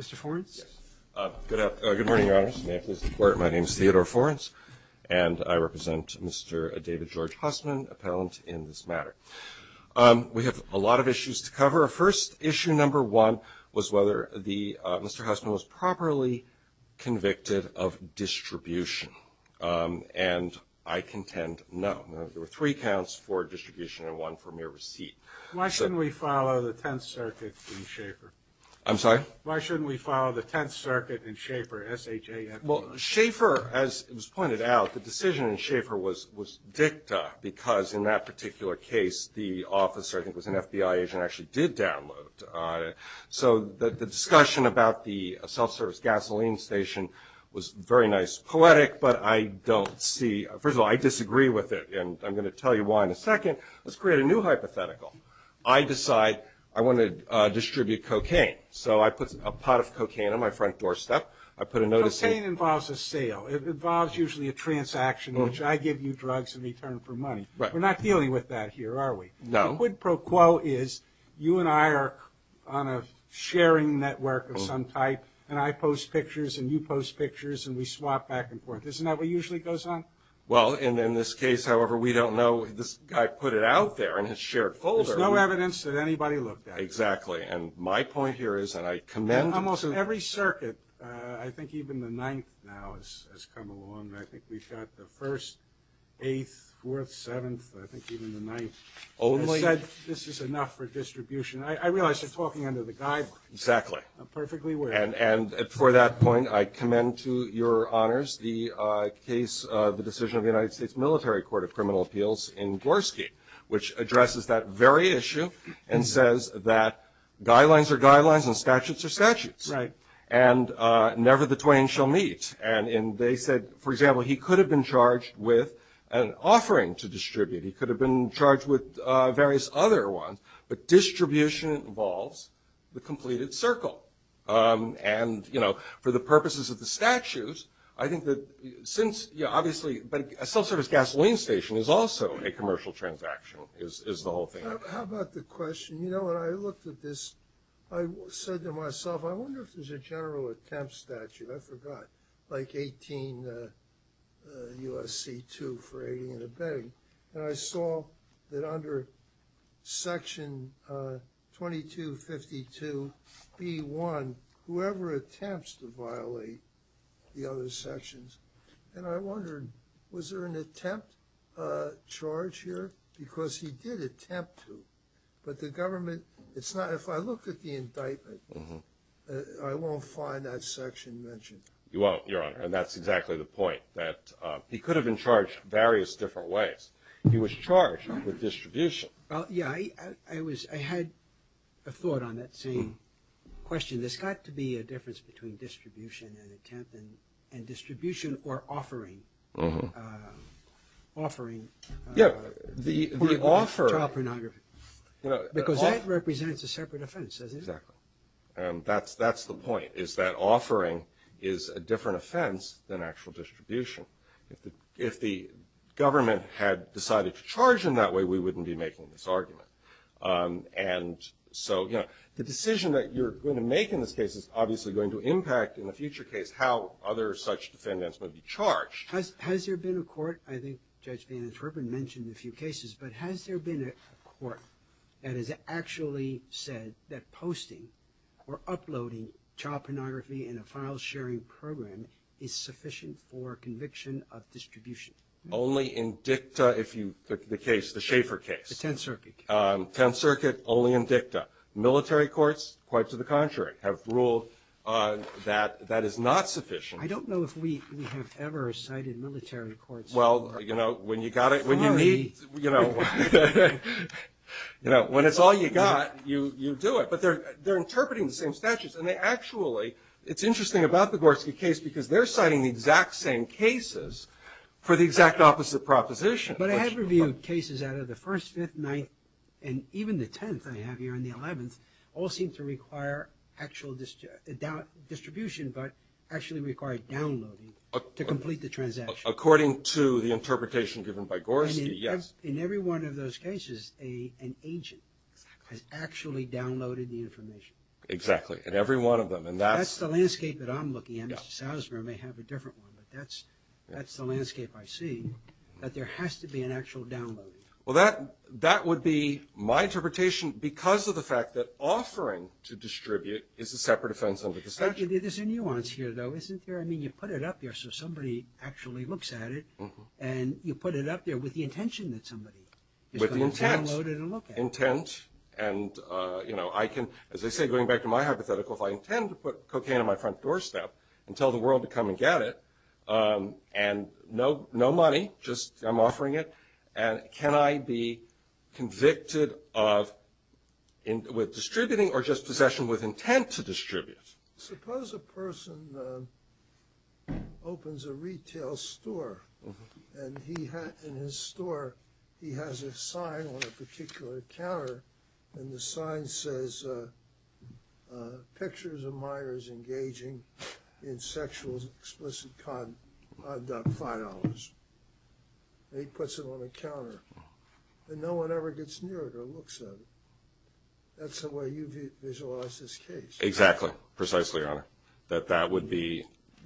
Mr. Forenz. Good morning, Your Honors. May it please the Court, my name is Theodore Forenz and I represent Mr. David George Hussman, appellant in this matter. We have a lot of issues to cover. First issue number one was whether Mr. Hussman was properly convicted of distribution, and I contend no. There were three counts for distribution and one for distribution. Why shouldn't we follow the Tenth Circuit in Schaefer? I'm sorry? Why shouldn't we follow the Tenth Circuit in Schaefer, S-H-A-E-F-E-R? Well, Schaefer, as was pointed out, the decision in Schaefer was dicta because in that particular case the officer, I think it was an FBI agent, actually did download. So the discussion about the self-service gasoline station was very nice poetic, but I don't see, first of all, I disagree with it and I'm going to tell you why in a second. Let's create a new hypothetical. I decide I want to distribute cocaine. So I put a pot of cocaine on my front doorstep. I put a notice in. Cocaine involves a sale. It involves usually a transaction in which I give you drugs in return for money. We're not dealing with that here, are we? No. The quid pro quo is you and I are on a sharing network of some type and I post pictures and you post pictures and we swap back and forth. Isn't that what usually goes on? Well, in this case, however, we don't know. This guy put it out there in his shared folder. There's no evidence that anybody looked at it. Exactly. And my point here is, and I commend... Almost in every circuit, I think even the Ninth now has come along. I think we've got the First, Eighth, Fourth, Seventh, I think even the Ninth, has said this is enough for distribution. I realize you're talking under the guidelines. Exactly. I'm perfectly aware. And for that reason, there's a military court of criminal appeals in Gorski, which addresses that very issue and says that guidelines are guidelines and statutes are statutes. Right. And never the twain shall meet. And they said, for example, he could have been charged with an offering to distribute. He could have been charged with various other ones. But distribution involves the completed circle. And for the purposes of the statutes, I think that since obviously... But a self-service gasoline station is also a commercial transaction, is the whole thing. How about the question? You know, when I looked at this, I said to myself, I wonder if there's a general attempt statute. I forgot. Like 18 U.S.C. 2 for aiding and abetting. And I saw that under Section 2252 B.1, whoever attempts to violate the other sections, and I wondered, was there an attempt charge here? Because he did attempt to. But the government... It's not... If I look at the indictment, I won't find that section mentioned. You won't, Your Honor. And that's exactly the point, that he could have been charged various different ways. He was charged with distribution. Yeah. I was... I had a thought on that same question. There's got to be a difference between distribution and attempt, and distribution or offering. Offering... Yeah. The offer... Child pornography. Because that represents a separate offense. That's the point, is that offering is a different offense than actual distribution. If the government had decided to charge him that way, we wouldn't be making this argument. And so, you know, the decision that you're going to make in this case is obviously going to impact, in the future case, how other such defendants will be charged. Has there been a court... I think Judge Bannon-Twerpen mentioned a few cases, but has there been a court that has actually said that posting or uploading child pornography in a file-sharing program is sufficient for conviction of distribution? Only in dicta, if you... The case, the Schaeffer case. The Tenth Circuit case. Tenth Circuit, only in dicta. Military courts, quite to the contrary, have ruled that that is not sufficient. I don't know if we have ever cited military courts. Well, you know, when you got it, when you need... Sorry. You know, when it's all you got, you do it. But they're interpreting the same statutes, and they actually... It's interesting about the Gorski case because they're citing the exact same cases for the Fifth, Ninth, and even the Tenth, I have here, and the Eleventh, all seem to require actual distribution, but actually require downloading to complete the transaction. According to the interpretation given by Gorski, yes. In every one of those cases, an agent has actually downloaded the information. Exactly. In every one of them, and that's... That's the landscape that I'm looking at. Mr. Salzberg may have a different one, but that's the landscape I see, that there has to be an actual downloading. Well, that would be my interpretation because of the fact that offering to distribute is a separate offense under the statute. There's a nuance here, though, isn't there? I mean, you put it up there so somebody actually looks at it, and you put it up there with the intention that somebody is going to download it and look at it. With the intent, and I can, as I say, going back to my hypothetical, if I intend to put cocaine on my front doorstep and tell the world to come and get it, and no money, just I'm offering it, and can I be convicted of... with distributing or just possession with intent to distribute? Suppose a person opens a retail store, and he has... in his store, he has a sign on a particular counter, and the sign says, pictures of minors engaging in sexual explicit conduct, $5, and he puts it on the counter, and no one ever gets near it or looks at it. That's the way you visualize this case. Exactly. Precisely, Your Honor. That that would be,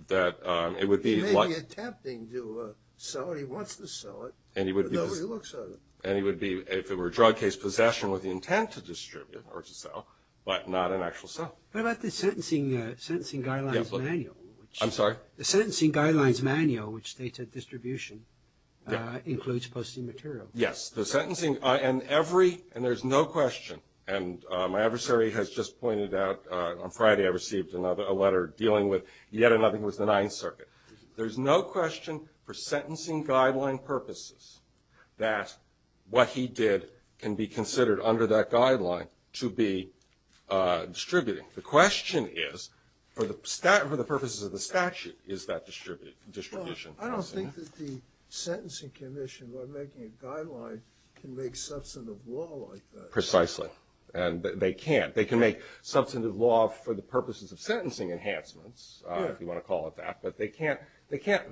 that it would be... He may be attempting to sell it, he wants to sell it, but nobody looks at it. And he would be, if it were a drug case, possession with the intent to distribute or to sell, but not an actual sale. What about the sentencing guidelines manual? I'm sorry? The sentencing guidelines manual, which states that distribution includes posting material. Yes, the sentencing, and every, and there's no question, and my adversary has just pointed out, on Friday I received a letter dealing with, yet another was the Ninth Circuit. There's no question, for sentencing guideline purposes, that what he did can be considered, under that guideline, to be distributing. The question is, for the purposes of the statute, is that distribution? Well, I don't think that the sentencing commission, by making a guideline, can make substantive law like that. Precisely. And they can't. They can make substantive law for the purposes of sentencing enhancements, if you want to call it that, but they can't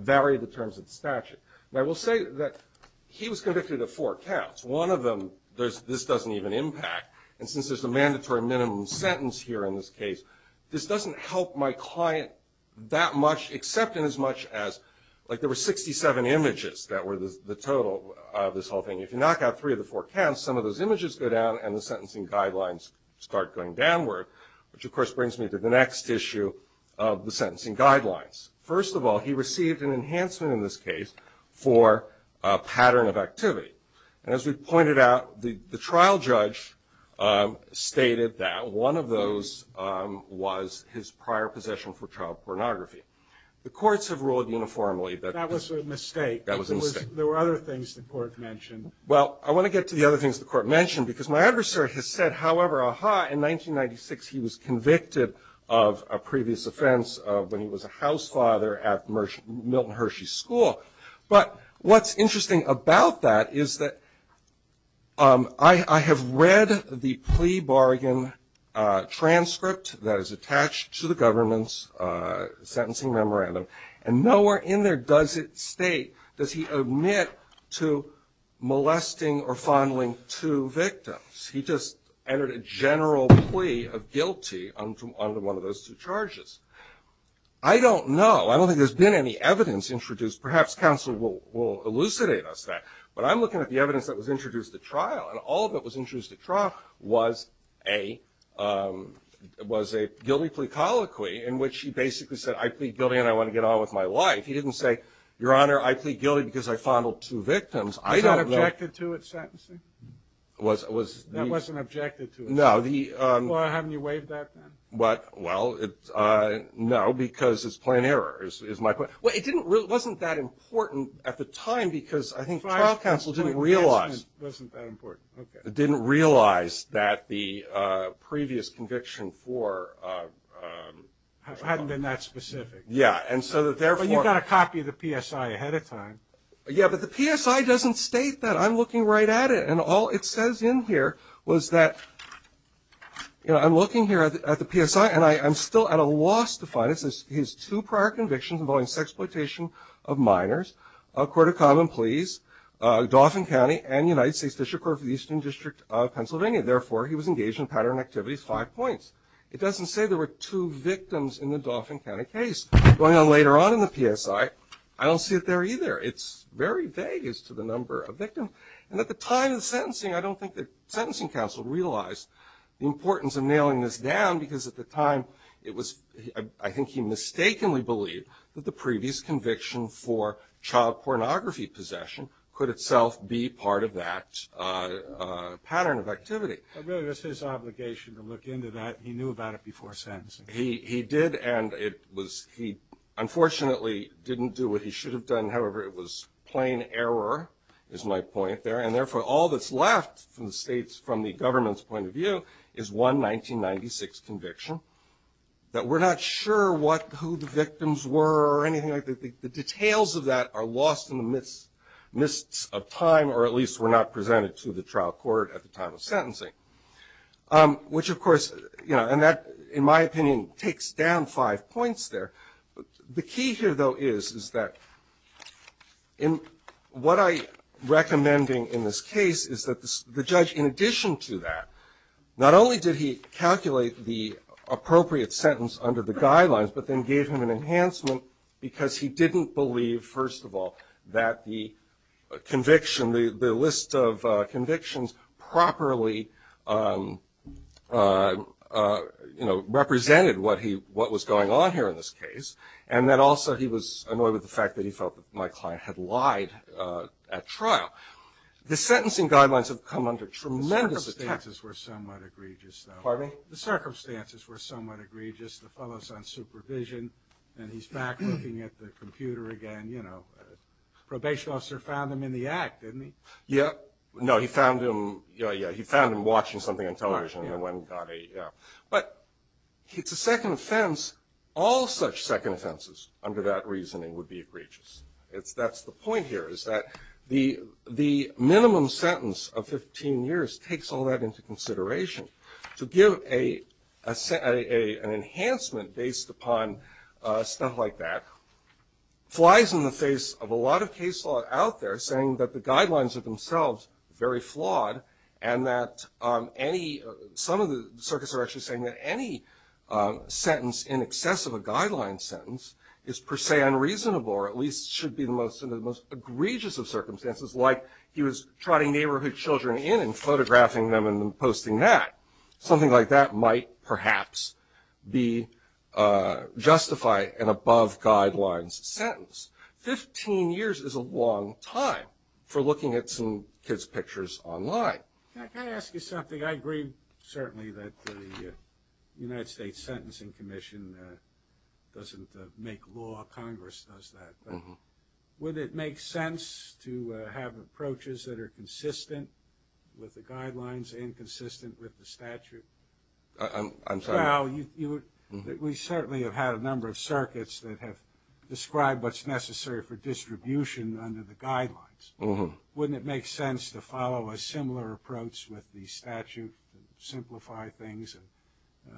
vary the terms of the statute. Now, we'll say that he was one of them, this doesn't even impact, and since there's a mandatory minimum sentence here in this case, this doesn't help my client that much, except in as much as, like there were 67 images that were the total of this whole thing. If you knock out three of the four counts, some of those images go down, and the sentencing guidelines start going downward, which of course brings me to the next issue of the sentencing guidelines. First of all, he received an enhancement in this case for a pattern of activity. And as we've pointed out, the trial judge stated that one of those was his prior possession for child pornography. The courts have ruled uniformly that... That was a mistake. That was a mistake. There were other things the court mentioned. Well, I want to get to the other things the court mentioned, because my adversary has said, however, aha, in 1996 he was convicted of a previous offense when he was a house father at Milton Hershey School. But what's interesting about that is that I have read the plea bargain transcript that is attached to the government's sentencing memorandum, and nowhere in there does it state, does he admit to molesting or fondling two victims. He just entered a general plea of guilty under one of those two charges. I don't know. I don't think there's been any evidence introduced. Perhaps counsel will elucidate us that. But I'm looking at the evidence that was introduced at trial, and all that was introduced at trial was a guilty plea colloquy in which he basically said, I plead guilty and I want to get on with my life. He didn't say, Your Honor, I plead guilty because I fondled two victims. I don't know... Was that objected to at sentencing? That wasn't objected to? No. Well, haven't you waived that then? Well, no, because it's plain error is my point. It wasn't that important at the time because I think trial counsel didn't realize that the previous conviction for... Hadn't been that specific. Yeah. But you've got a copy of the PSI ahead of time. Yeah, but the PSI doesn't state that. I'm looking right at it, and all it says in here was that, you know, I'm looking here at the PSI, and I'm still at a loss to find it. It says his two prior convictions involving sexploitation of minors, a court of common pleas, Dauphin County, and United States District Court of the Eastern District of Pennsylvania. Therefore, he was engaged in pattern activities, five points. It doesn't say there were two victims in the Dauphin County case. Going on later on in the PSI, I don't see it there either. It's very vague as to the number of victims. And at the time of the sentencing, I don't think the sentencing counsel realized the importance of nailing this down because at the time it was... I think he mistakenly believed that the previous conviction for child pornography possession could itself be part of that pattern of activity. But really, it was his obligation to look into that. He knew about it before sentencing. He did, and he unfortunately didn't do what he should have done. However, it was plain error, is my point there. And therefore, all that's left from the government's point of view is one 1996 conviction that we're not sure who the victims were or anything like that. The details of that are lost in the mists of time, or at least were not presented to the trial court at the time of sentencing. Which of course, in my opinion, takes down five points there. The key here though is that what I'm recommending in this case is that the judge, in addition to that, not only did he calculate the appropriate sentence under the guidelines, but then gave him an enhancement because he didn't believe, first of all, that the conviction, the list of convictions properly represented what was going on here in this case. And that also he was annoyed with the fact that he felt that my client had lied at trial. The sentencing guidelines have come under tremendous attack. The circumstances were somewhat egregious though. Pardon me? The circumstances were somewhat egregious. The fellow's on supervision, and he's back looking at the computer again. Probation officer found him in the act, didn't he? Yeah. No, he found him watching something on television. But it's a second offense. All such second offenses under that reasoning would be egregious. That's the point here is that the minimum sentence of 15 years takes all that into consideration to give an enhancement based upon stuff like that flies in the face of a lot of case law out there saying that the guidelines are themselves very flawed and that some of the circuits are actually saying that any sentence in excess of a guideline sentence is per se unreasonable or at least should be the most egregious of circumstances, like he was trotting neighborhood children in and photographing them and posting that. Something like that might perhaps be justified in above guidelines sentence. 15 years is a long time for looking at some kids' pictures online. Can I ask you something? I agree certainly that the United States Sentencing Commission doesn't make law. Congress does that. But would it make sense to have approaches that are consistent with the guidelines and consistent with the statute? I'm sorry? Well, we certainly have had a number of circuits that have described what's necessary for distribution under the guidelines. Wouldn't it make sense to follow a similar approach with the statute and simplify things and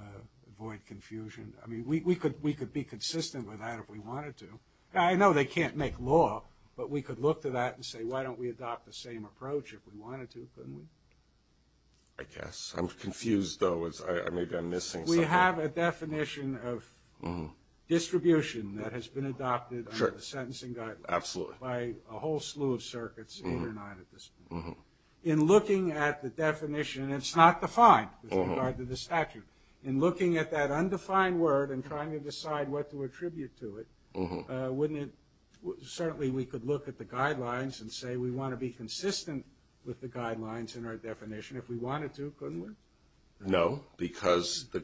avoid confusion? I mean, we could be consistent with that if we wanted to. I know they can't make law, but we could look to that and say, why don't we adopt the same approach if we wanted to, couldn't we? I guess. I'm confused, though. Maybe I'm missing something. We have a definition of distribution that has been adopted under the sentencing guidelines by a whole slew of circuits, eight or nine at this point. In looking at the definition, it's not defined with regard to the statute. In looking at that undefined word and trying to decide what to attribute to it, certainly we could look at the guidelines and say we want to be consistent with the guidelines in our definition if we wanted to, couldn't we? No, because the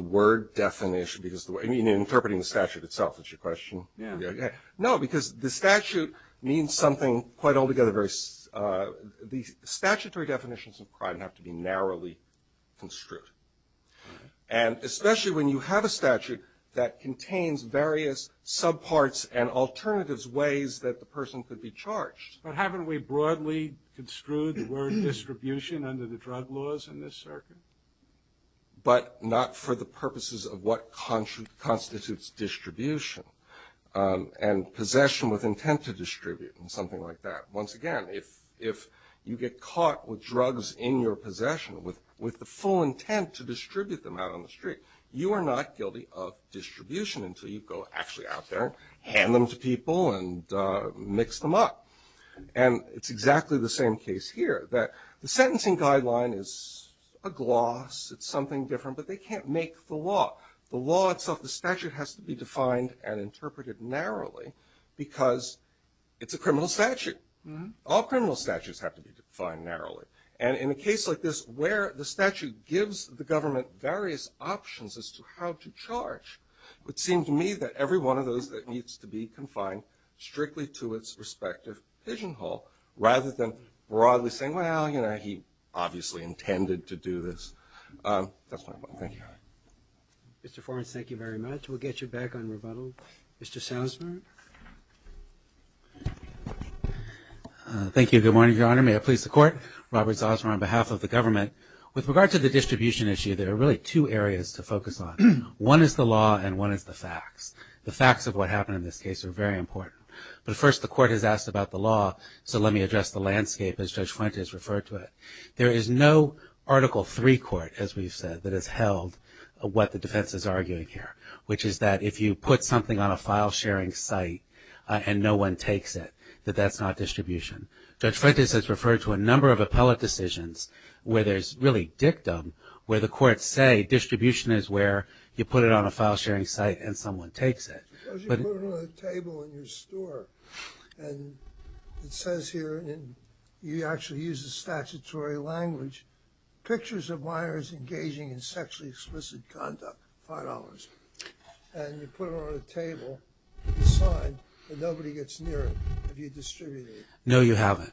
word definition – I mean, interpreting the statute itself is your question. Yeah. No, because the statute means something quite altogether very – the statutory definitions of crime have to be narrowly construed. And especially when you have a statute that contains various subparts and alternatives, ways that the person could be charged. But haven't we broadly construed the word distribution under the drug laws in this circuit? But not for the purposes of what constitutes distribution and possession with intent to distribute and something like that. Once again, if you get caught with drugs in your possession with the full intent to distribute them out on the street, you are not guilty of distribution until you go actually out there, hand them to people, and mix them up. And it's exactly the same case here, that the sentencing guideline is a gloss, it's something different, but they can't make the law. The law itself, the statute, has to be defined and interpreted narrowly because it's a criminal statute. All criminal statutes have to be defined narrowly. And in a case like this, where the statute gives the government various options as to how to charge, it would seem to me that every one of those needs to be confined strictly to its respective pigeonhole, rather than broadly saying, well, you know, he obviously intended to do this. That's my point. Thank you. Mr. Forrest, thank you very much. We'll get you back on rebuttal. Mr. Salzman? Thank you. Good morning, Your Honor. May it please the Court? Robert Salzman on behalf of the government. With regard to the distribution issue, there are really two areas to focus on. One is the law, and one is the facts. The facts of what happened in this case are very important. But first, the Court has asked about the law, so let me address the landscape as Judge Fuentes referred to it. There is no Article III court, as we've said, that has held what the defense is arguing here, which is that if you put something on a file sharing site and no one takes it, that that's not distribution. Judge Fuentes has referred to a number of appellate decisions where there's really dictum, where the courts say distribution is where you put it on a file sharing site and someone takes it. Suppose you put it on a table in your store, and it says here, and you actually use the statutory language, pictures of minors engaging in sexually explicit conduct, $5, and you put it on a table, you sign, but nobody gets near it. Have you distributed it? No, you haven't.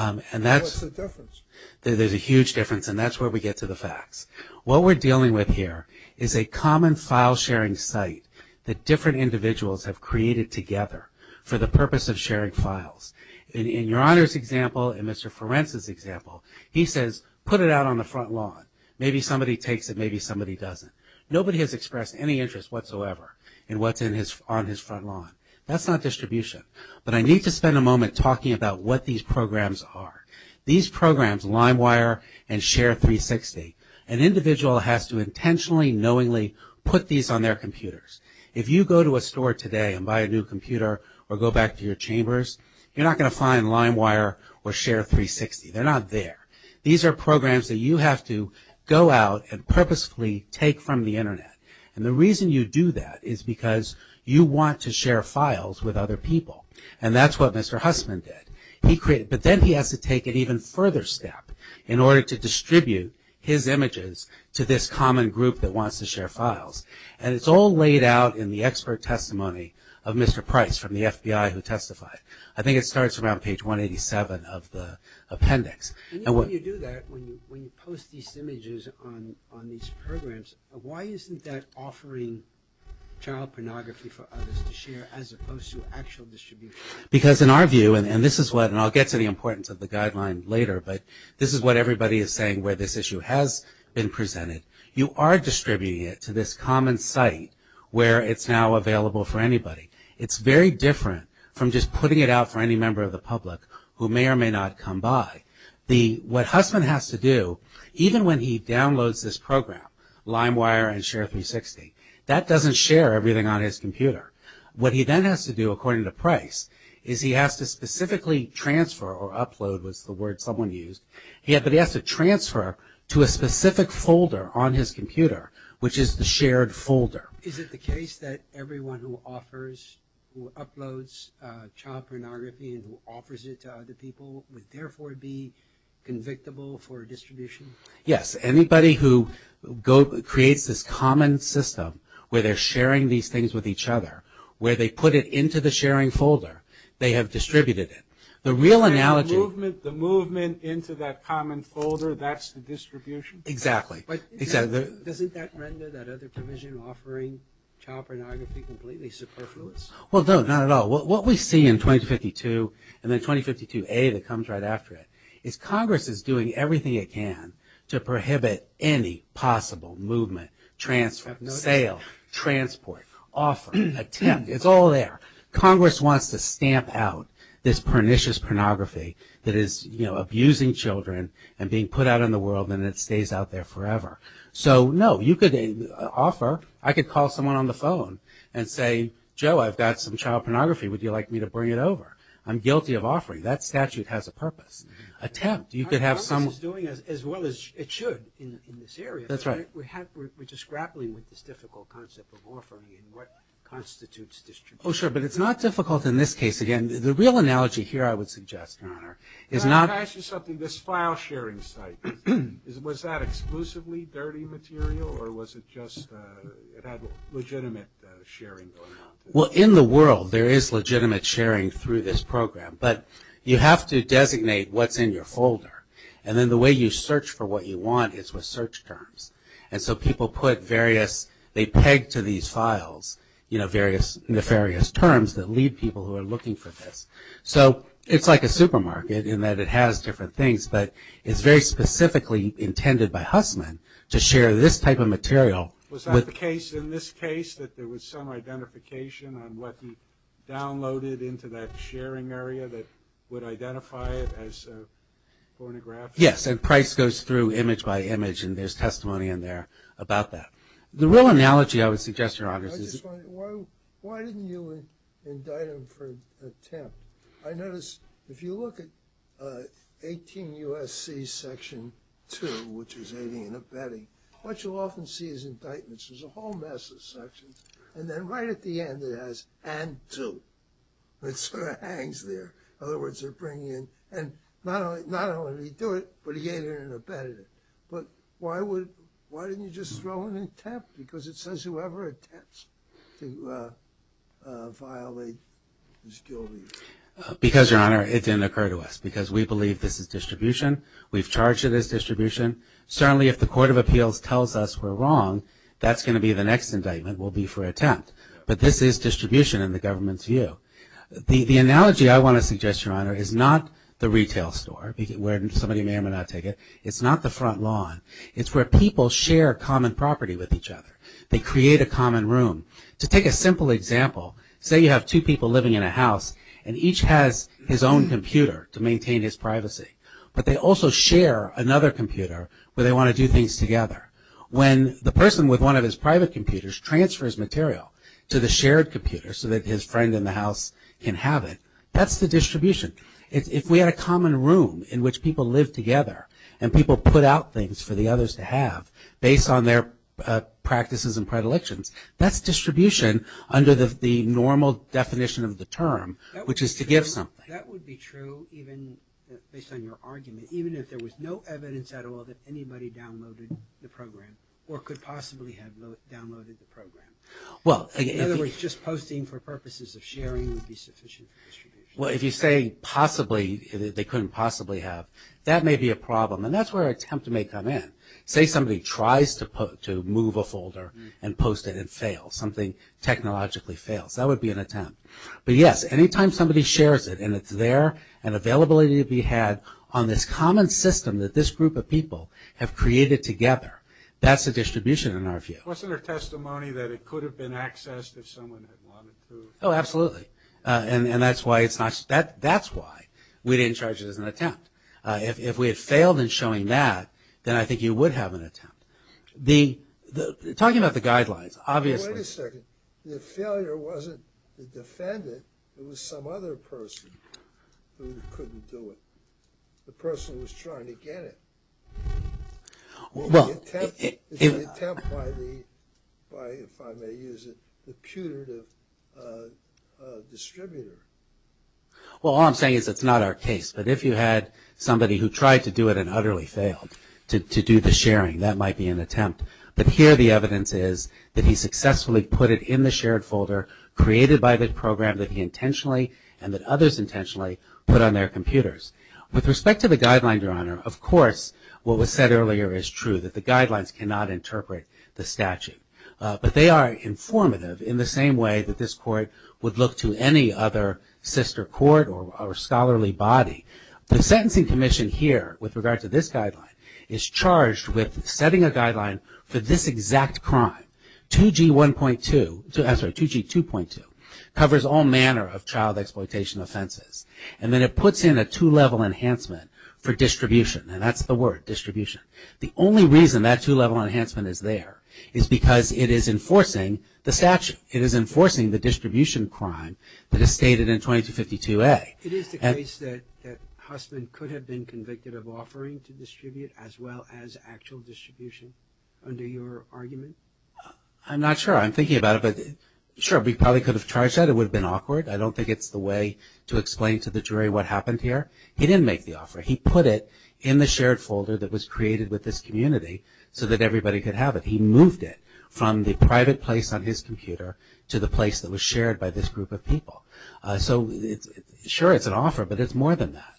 And what's the difference? There's a huge difference, and that's where we get to the facts. What we're dealing with here is a common file sharing site that different individuals have created together for the purpose of sharing files. In Your Honor's example, in Mr. Ferencz's example, he says put it out on the front lawn. Maybe somebody takes it, maybe somebody doesn't. Nobody has expressed any interest whatsoever in what's on his front lawn. That's not distribution. But I need to spend a moment talking about what these programs are. These programs, LimeWire and Share360, an individual has to intentionally, knowingly put these on their computers. If you go to a store today and buy a new computer or go back to your chambers, you're not going to find LimeWire or Share360. They're not there. These are programs that you have to go out and purposefully take from the Internet. And the And that's what Mr. Hussman did. But then he has to take it an even further step in order to distribute his images to this common group that wants to share files. And it's all laid out in the expert testimony of Mr. Price from the FBI who testified. I think it starts around page 187 of the appendix. And when you do that, when you post these images on these programs, why isn't that distributed? Because in our view, and this is what, and I'll get to the importance of the guideline later, but this is what everybody is saying where this issue has been presented. You are distributing it to this common site where it's now available for anybody. It's very different from just putting it out for any member of the public who may or may not come by. What Hussman has to do, even when he downloads this program, LimeWire and Share360, that doesn't share everything on his computer. What he then has to do, according to Price, is he has to specifically transfer, or upload was the word someone used, but he has to transfer to a specific folder on his computer, which is the shared folder. Is it the case that everyone who offers, who uploads child pornography and who offers it to other people would therefore be convictable for distribution? Yes. Anybody who creates this common system where they're sharing these things with each other, where they put it into the sharing folder, they have distributed it. The real analogy... And the movement into that common folder, that's the distribution? Exactly. But doesn't that render that other provision offering child pornography completely superfluous? Well, no, not at all. What we see in 2052 and then 2052A that comes right after it is Congress is doing everything it can to prohibit any possible movement, sale, transport, offer, attempt, it's all there. Congress wants to stamp out this pernicious pornography that is abusing children and being put out in the world and it stays out there forever. So, no, you could offer, I could call someone on the phone and say, Joe, I've got some child pornography, would you like me to bring it over? I'm guilty of offering. That statute has a purpose. Attempt, you could have some... Congress is doing as well as it should in this area. That's right. We're just grappling with this difficult concept of offering and what constitutes distribution. Oh, sure, but it's not difficult in this case. Again, the real analogy here I would suggest, Your Honor, is not... Can I ask you something? This file sharing site, was that exclusively dirty material or was it just, it had legitimate sharing going on? Well, in the world there is legitimate sharing through this program, but you have to designate what's in your folder. And then the way you search for what you want is with search terms. And so people put various, they peg to these files various nefarious terms that lead people who are looking for this. So, it's like a supermarket in that it has different things, but it's very specifically intended by Hussman to share this type of material with... Was that the case in this case, that there was some identification on what he downloaded into that sharing area that would identify it as pornography? Yes, and Price goes through image by image and there's testimony in there about that. The real analogy I would suggest, Your Honor, is... I just want to, why didn't you indict him for attempt? I notice if you look at 18 U.S.C. Section 2, which is aiding and abetting, what you'll often see is indictments. There's a whole mess of sections. And then right at the end it has, and 2. It sort of hangs there. In other words, they're bringing in, and not only did he do it, but he aided and abetted it. But why would, why didn't you just throw in an attempt? Because it says whoever attempts to violate is guilty. Because, Your Honor, it didn't occur to us. Because we believe this is distribution. We've charged it as distribution. Certainly if the Court of Appeals tells us we're wrong, that's going to be the next indictment will be for attempt. But this is distribution in the government's view. The analogy I want to suggest, Your Honor, is not the retail store, where somebody may or may not take it. It's not the front lawn. It's where people share common property with each other. They create a common room. To take a simple example, say you have two people living in a house, and each has his own computer to maintain his privacy. But they also share another computer where they want to do things together. When the person with one of his private computers transfers material to the shared computer so that his friend in the house can have it, that's the distribution. If we had a common room in which people live together and people put out things for the others to have based on their practices and predilections, that's distribution under the normal definition of the term, which is to give something. That would be true even, based on your argument, even if there was no evidence at all that anybody downloaded the program or could possibly have downloaded the program. In other words, just posting for purposes of sharing would be sufficient for distribution. Well, if you say possibly, they couldn't possibly have, that may be a problem. And that's where an attempt may come in. Say somebody tries to move a folder and post it and fails. Something technologically fails. That would be an attempt. But yes, any time somebody shares it and it's there and availability to be had on this common system that this group of people have created together, that's a distribution in our view. Wasn't there testimony that it could have been accessed if someone had wanted to? Oh, absolutely. And that's why we didn't charge it as an attempt. If we had failed in showing that, then I think you would have an attempt. Talking about the guidelines, obviously... Wait a second. The failure wasn't the defendant. It was some other person who couldn't do it. The person was trying to get it. It was an attempt by, if I may use it, the pewter distributor. Well, all I'm saying is it's not our case. But if you had somebody who tried to do it and utterly failed to do the sharing, that might be an attempt. But here the evidence is that he successfully put it in the shared folder created by the program that he intentionally and that others intentionally put on their computers. With respect to the guideline, Your Honor, of course, what was said earlier is true, that the guidelines cannot interpret the statute. But they are informative in the same way that this court would look to any other sister court or scholarly body. The Sentencing Commission here, with regard to this guideline, is charged with setting a guideline for this exact crime. 2G1.2, I'm sorry, 2G2.2, covers all manner of child exploitation offenses. And then it puts in a two-level enhancement for distribution. And that's the word, distribution. The only reason that two-level enhancement is there is because it is enforcing the statute. It is enforcing the distribution crime that is stated in 2252A. It is the case that Hussman could have been convicted of offering to distribute as well as actual distribution under your argument? I'm not sure. I'm thinking about it. Sure, we probably could have charged that. It would have been awkward. I don't think it's the way to explain to the jury what happened here. He didn't make the offer. He put it in the shared folder that was created with this community so that everybody could have it. He moved it from the private place on his computer to the place that was shared by this group of people. Sure, it's an offer, but it's more than that.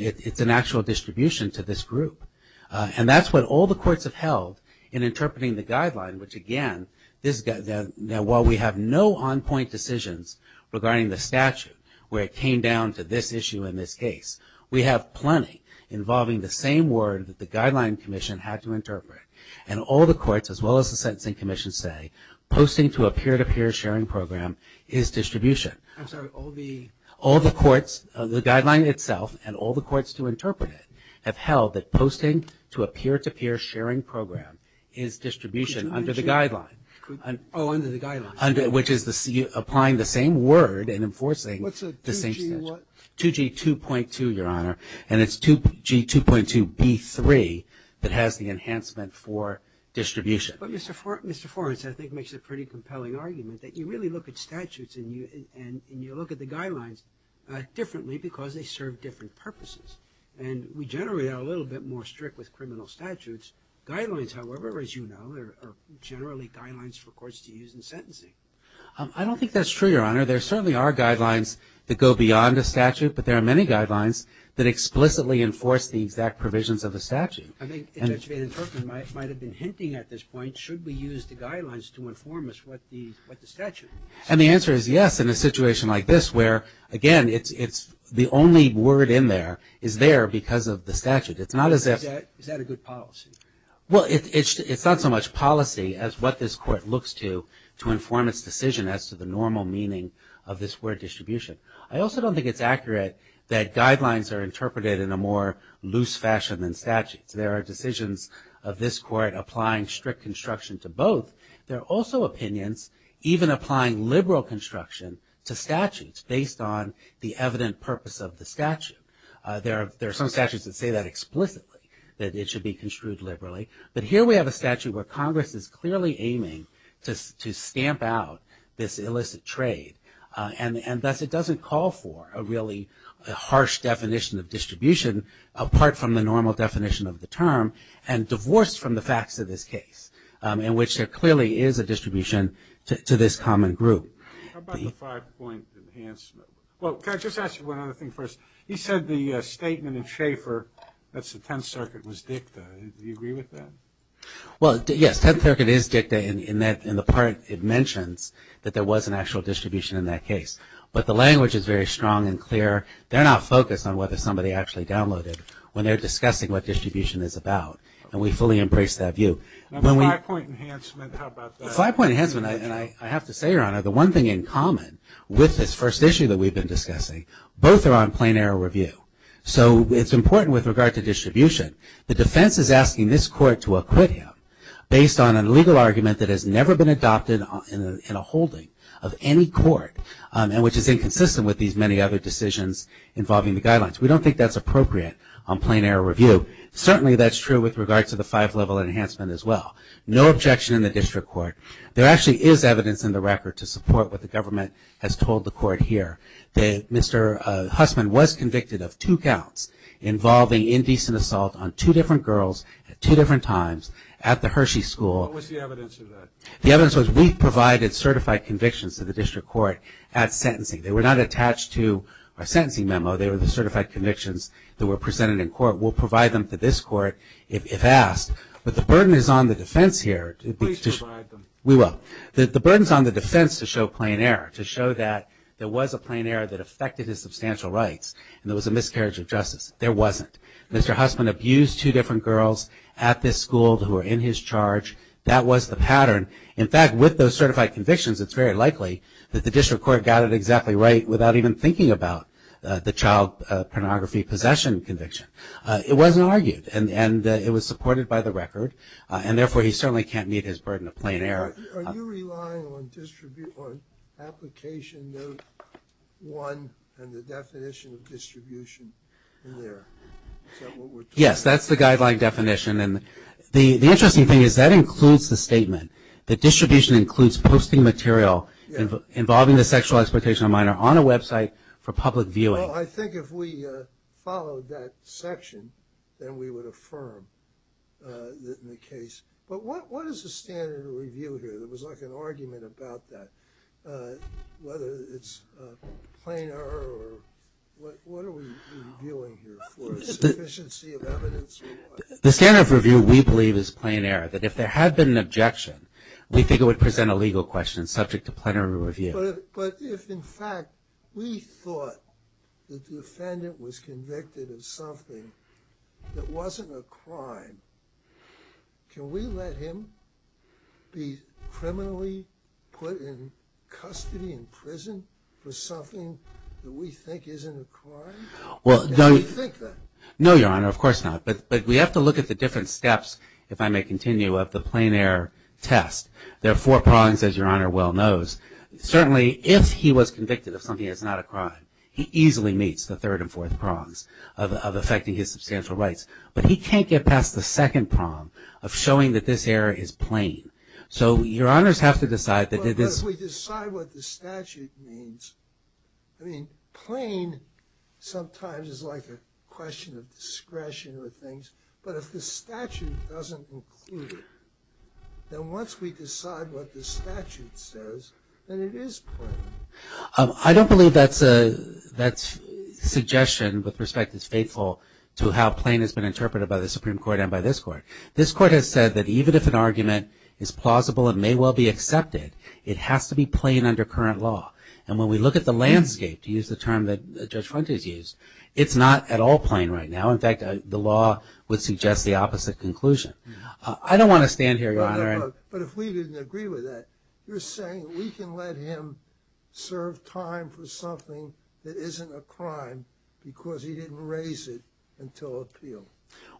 It's an actual distribution to this group. And that's what all the courts have held in interpreting the guideline, which again, while we have no on-point decisions regarding the statute, where it came down to this issue in this case, we have plenty involving the same word that the Guideline Commission had to interpret. And all the courts, as well as the Sentencing Commission, say posting to a peer-to-peer sharing program is distribution. I'm sorry, all the courts, the guideline itself, and all the courts to interpret it, have held that posting to a peer-to-peer sharing program is distribution under the guideline. Oh, under the guideline. Which is applying the same word and enforcing the same statute. What's a 2G what? 2G 2.2, Your Honor, and it's 2G 2.2 B3 that has the enhancement for distribution. But Mr. Forrest, I think, makes a pretty compelling argument that you really look at statutes and you look at the guidelines differently because they serve different purposes. And we generally are a little bit more strict with criminal statutes. Guidelines, however, as you know, are generally guidelines for courts to use in sentencing. I don't think that's true, Your Honor. There certainly are guidelines that go beyond a statute, but there are many guidelines that explicitly enforce the exact provisions of a statute. I think Judge Van Turpen might have been hinting at this point, should we use the guidelines to inform us what the statute is? And the answer is yes, in a situation like this where, again, it's the only word in there, is there because of the statute. Is that a good policy? Well, it's not so much policy as what this court looks to to inform its decision as to the normal meaning of this word distribution. I also don't think it's accurate that guidelines are interpreted in a more loose fashion than statutes. There are decisions of this court applying strict construction to both. There are also opinions even applying liberal construction to statutes based on the evident purpose of the statute. There are some statutes that say that explicitly, that it should be construed liberally, but here we have a statute where Congress is clearly aiming to stamp out this illicit trade and thus it doesn't call for a really harsh definition of distribution apart from the normal definition of the term and divorced from the facts of this case in which there clearly is a distribution to this common group. How about the five-point enhancement? Well, can I just ask you one other thing first? You said the statement in Schaeffer that the Tenth Circuit was dicta. Do you agree with that? Well, yes, Tenth Circuit is dicta in that in the part it mentions that there was an actual distribution in that case, but the language is very strong and clear. They're not focused on whether somebody actually downloaded when they're discussing what distribution is about, and we fully embrace that view. Now, the five-point enhancement, how about that? The five-point enhancement, and I have to say, Your Honor, the one thing in common with this first issue that we've been discussing, both are on plain error review. So it's important with regard to distribution. The defense is asking this court to acquit him based on a legal argument that has never been adopted in a holding of any court and which is inconsistent with these many other decisions involving the guidelines. We don't think that's appropriate on plain error review. Certainly that's true with regard to the five-level enhancement as well. No objection in the district court. There actually is evidence in the record to support what the government has told the court here. Mr. Hussman was convicted of two counts involving indecent assault on two different girls at two different times at the Hershey School. What was the evidence of that? The evidence was we've provided certified convictions to the district court at sentencing. They were not attached to our sentencing memo. They were the certified convictions that were presented in court. We'll provide them to this court if asked, but the burden is on the defense here. Please provide them. We will. The burden is on the defense to show plain error, to show that there was a plain error that affected his substantial rights and there was a miscarriage of justice. There wasn't. Mr. Hussman abused two different girls at this school who were in his charge. That was the pattern. In fact, with those certified convictions, it's very likely that the district court got it exactly right without even thinking about the child pornography possession conviction. It wasn't argued, and it was supported by the record, and therefore he certainly can't meet his burden of plain error. Are you relying on application note one and the definition of distribution in there? Is that what we're talking about? Yes, that's the guideline definition, and the interesting thing is that includes the statement. The distribution includes posting material involving the sexual exploitation of a minor on a website for public viewing. Well, I think if we followed that section, then we would affirm in the case. But what is the standard of review here? There was like an argument about that, whether it's plain error or what are we reviewing here for, sufficiency of evidence or what? The standard of review we believe is plain error, that if there had been an objection, we think it would present a legal question subject to plenary review. But if in fact we thought the defendant was convicted of something that wasn't a crime, can we let him be criminally put in custody in prison for something that we think isn't a crime? Do you think that? No, Your Honor, of course not. But we have to look at the different steps, if I may continue, of the plain error test. There are four prongs, as Your Honor well knows. Certainly if he was convicted of something that's not a crime, he easily meets the third and fourth prongs of affecting his substantial rights. But he can't get past the second prong of showing that this error is plain. So Your Honors have to decide that this... But if we decide what the statute means, I mean, plain sometimes is like a question of discretion or things, but if the statute doesn't include it, then once we decide what the statute says, then it is plain. I don't believe that suggestion with respect is faithful to how plain has been interpreted by the Supreme Court and by this Court. This Court has said that even if an argument is plausible and may well be accepted, it has to be plain under current law. And when we look at the landscape, to use the term that Judge Fuentes used, it's not at all plain right now. In fact, the law would suggest the opposite conclusion. I don't want to stand here, Your Honor. But if we didn't agree with that, you're saying we can let him serve time for something that isn't a crime because he didn't raise it until appeal.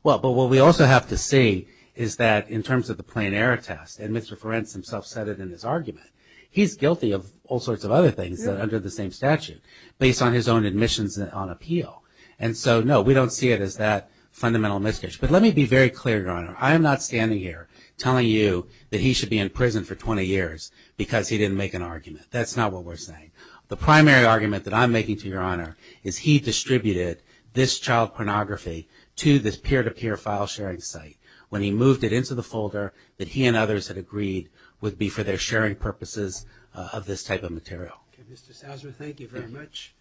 Well, but what we also have to see is that in terms of the plain error test, and Mr. Fuentes himself said it in his argument, he's guilty of all sorts of other things under the same statute based on his own admissions on appeal. And so, no, we don't see it as that fundamental misjudgment. But let me be very clear, Your Honor. I am not standing here telling you that he should be in prison for 20 years because he didn't make an argument. That's not what we're saying. The primary argument that I'm making to Your Honor is he distributed this child pornography to this peer-to-peer file sharing site when he moved it into the folder that he and others had agreed would be for their sharing purposes of this type of material. Okay, Mr. Souser, thank you very much.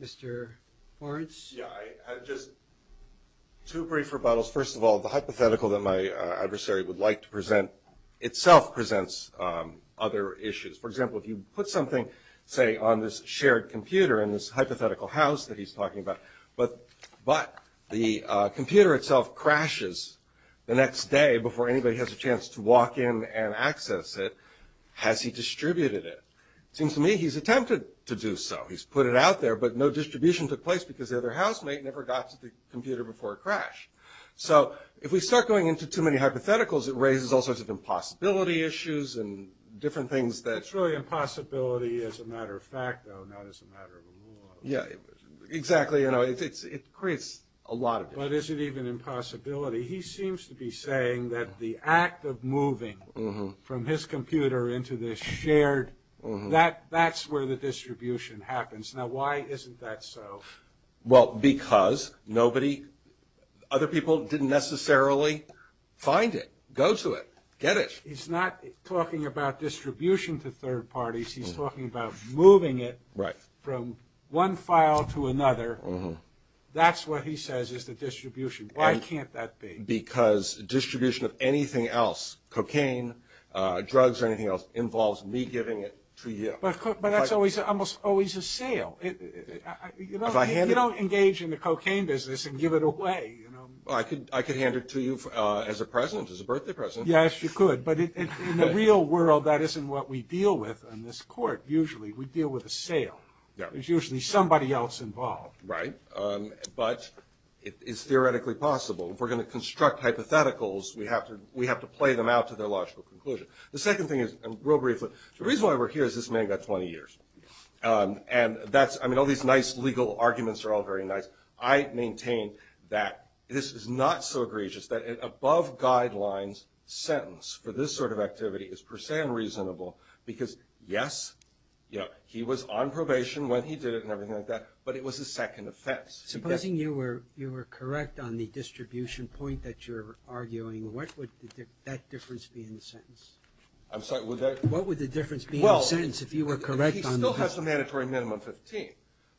Mr. Forenz? Yeah, just two brief rebuttals. First of all, the hypothetical that my adversary would like to present itself presents other issues. For example, if you put something, say, on this shared computer in this hypothetical house that he's talking about, but the computer itself crashes the next day before anybody has a chance to walk in and access it, has he distributed it? It seems to me he's attempted to do so. He's put it out there, but no distribution took place because the other housemate never got to the computer before it crashed. So if we start going into too many hypotheticals, it raises all sorts of impossibility issues and different things that... It's really impossibility as a matter of fact, though, not as a matter of a rule of law. Yeah, exactly. It creates a lot of it. But is it even impossibility? He seems to be saying that the act of moving from his computer into this shared... that's where the distribution happens. Now, why isn't that so? Well, because nobody... other people didn't necessarily find it, go to it, get it. He's not talking about distribution to third parties. He's talking about moving it from one file to another. That's what he says is the distribution. Why can't that be? Because distribution of anything else, cocaine, drugs or anything else, involves me giving it to you. But that's almost always a sale. If I hand it... You don't engage in the cocaine business and give it away. I could hand it to you as a present, as a birthday present. Yes, you could. But in the real world, that isn't what we deal with in this court. Usually we deal with a sale. There's usually somebody else involved. Right. But it's theoretically possible. If we're going to construct hypotheticals, we have to play them out to their logical conclusion. The second thing is, real briefly, the reason why we're here is this man got 20 years. And that's... I mean, all these nice legal arguments are all very nice. I maintain that this is not so egregious that an above guidelines sentence for this sort of activity is per se unreasonable because, yes, he was on probation when he did it and everything like that, but it was a second offense. Supposing you were correct on the distribution point that you're arguing, what would that difference be in the sentence? What would the difference be in the sentence if you were correct? He still has the mandatory minimum of 15.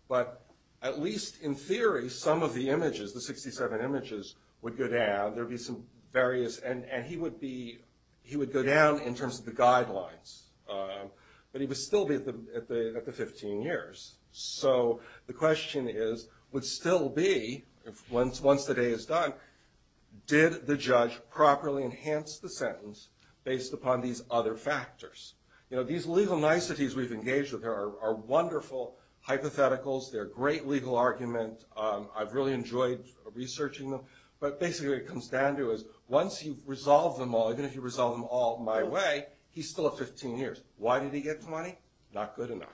But at least in theory, some of the images, the 67 images, would go down. There would be some various... And he would go down in terms of the guidelines. But he would still be at the 15 years. So the question is, would still be, once the day is done, did the judge properly enhance the sentence based upon these other factors? These legal niceties we've engaged with are wonderful hypotheticals. They're a great legal argument. I've really enjoyed researching them. But basically what it comes down to is once you've resolved them all, even if you resolve them all my way, he's still at 15 years. Why did he get 20? Not good enough.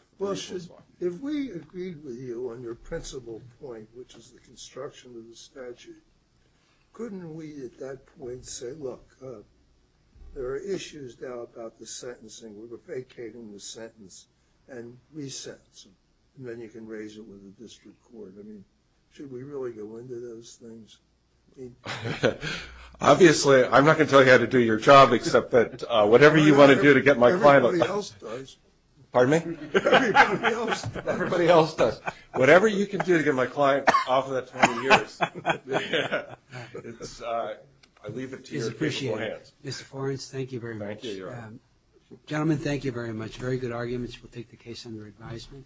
If we agreed with you on your principal point, which is the construction of the statute, couldn't we at that point say, look, there are issues now about the sentencing. We're vacating the sentence and re-sentencing. And then you can raise it with the district court. Should we really go into those things? Obviously, I'm not going to tell you how to do your job, except that whatever you want to do to get my client... Everybody else does. Pardon me? Everybody else does. Whatever you can do to get my client off of that 20 years, I leave it to your reasonable hands. It's appreciated. Mr. Forens, thank you very much. Gentlemen, thank you very much. Very good arguments. We'll take the case under advisement.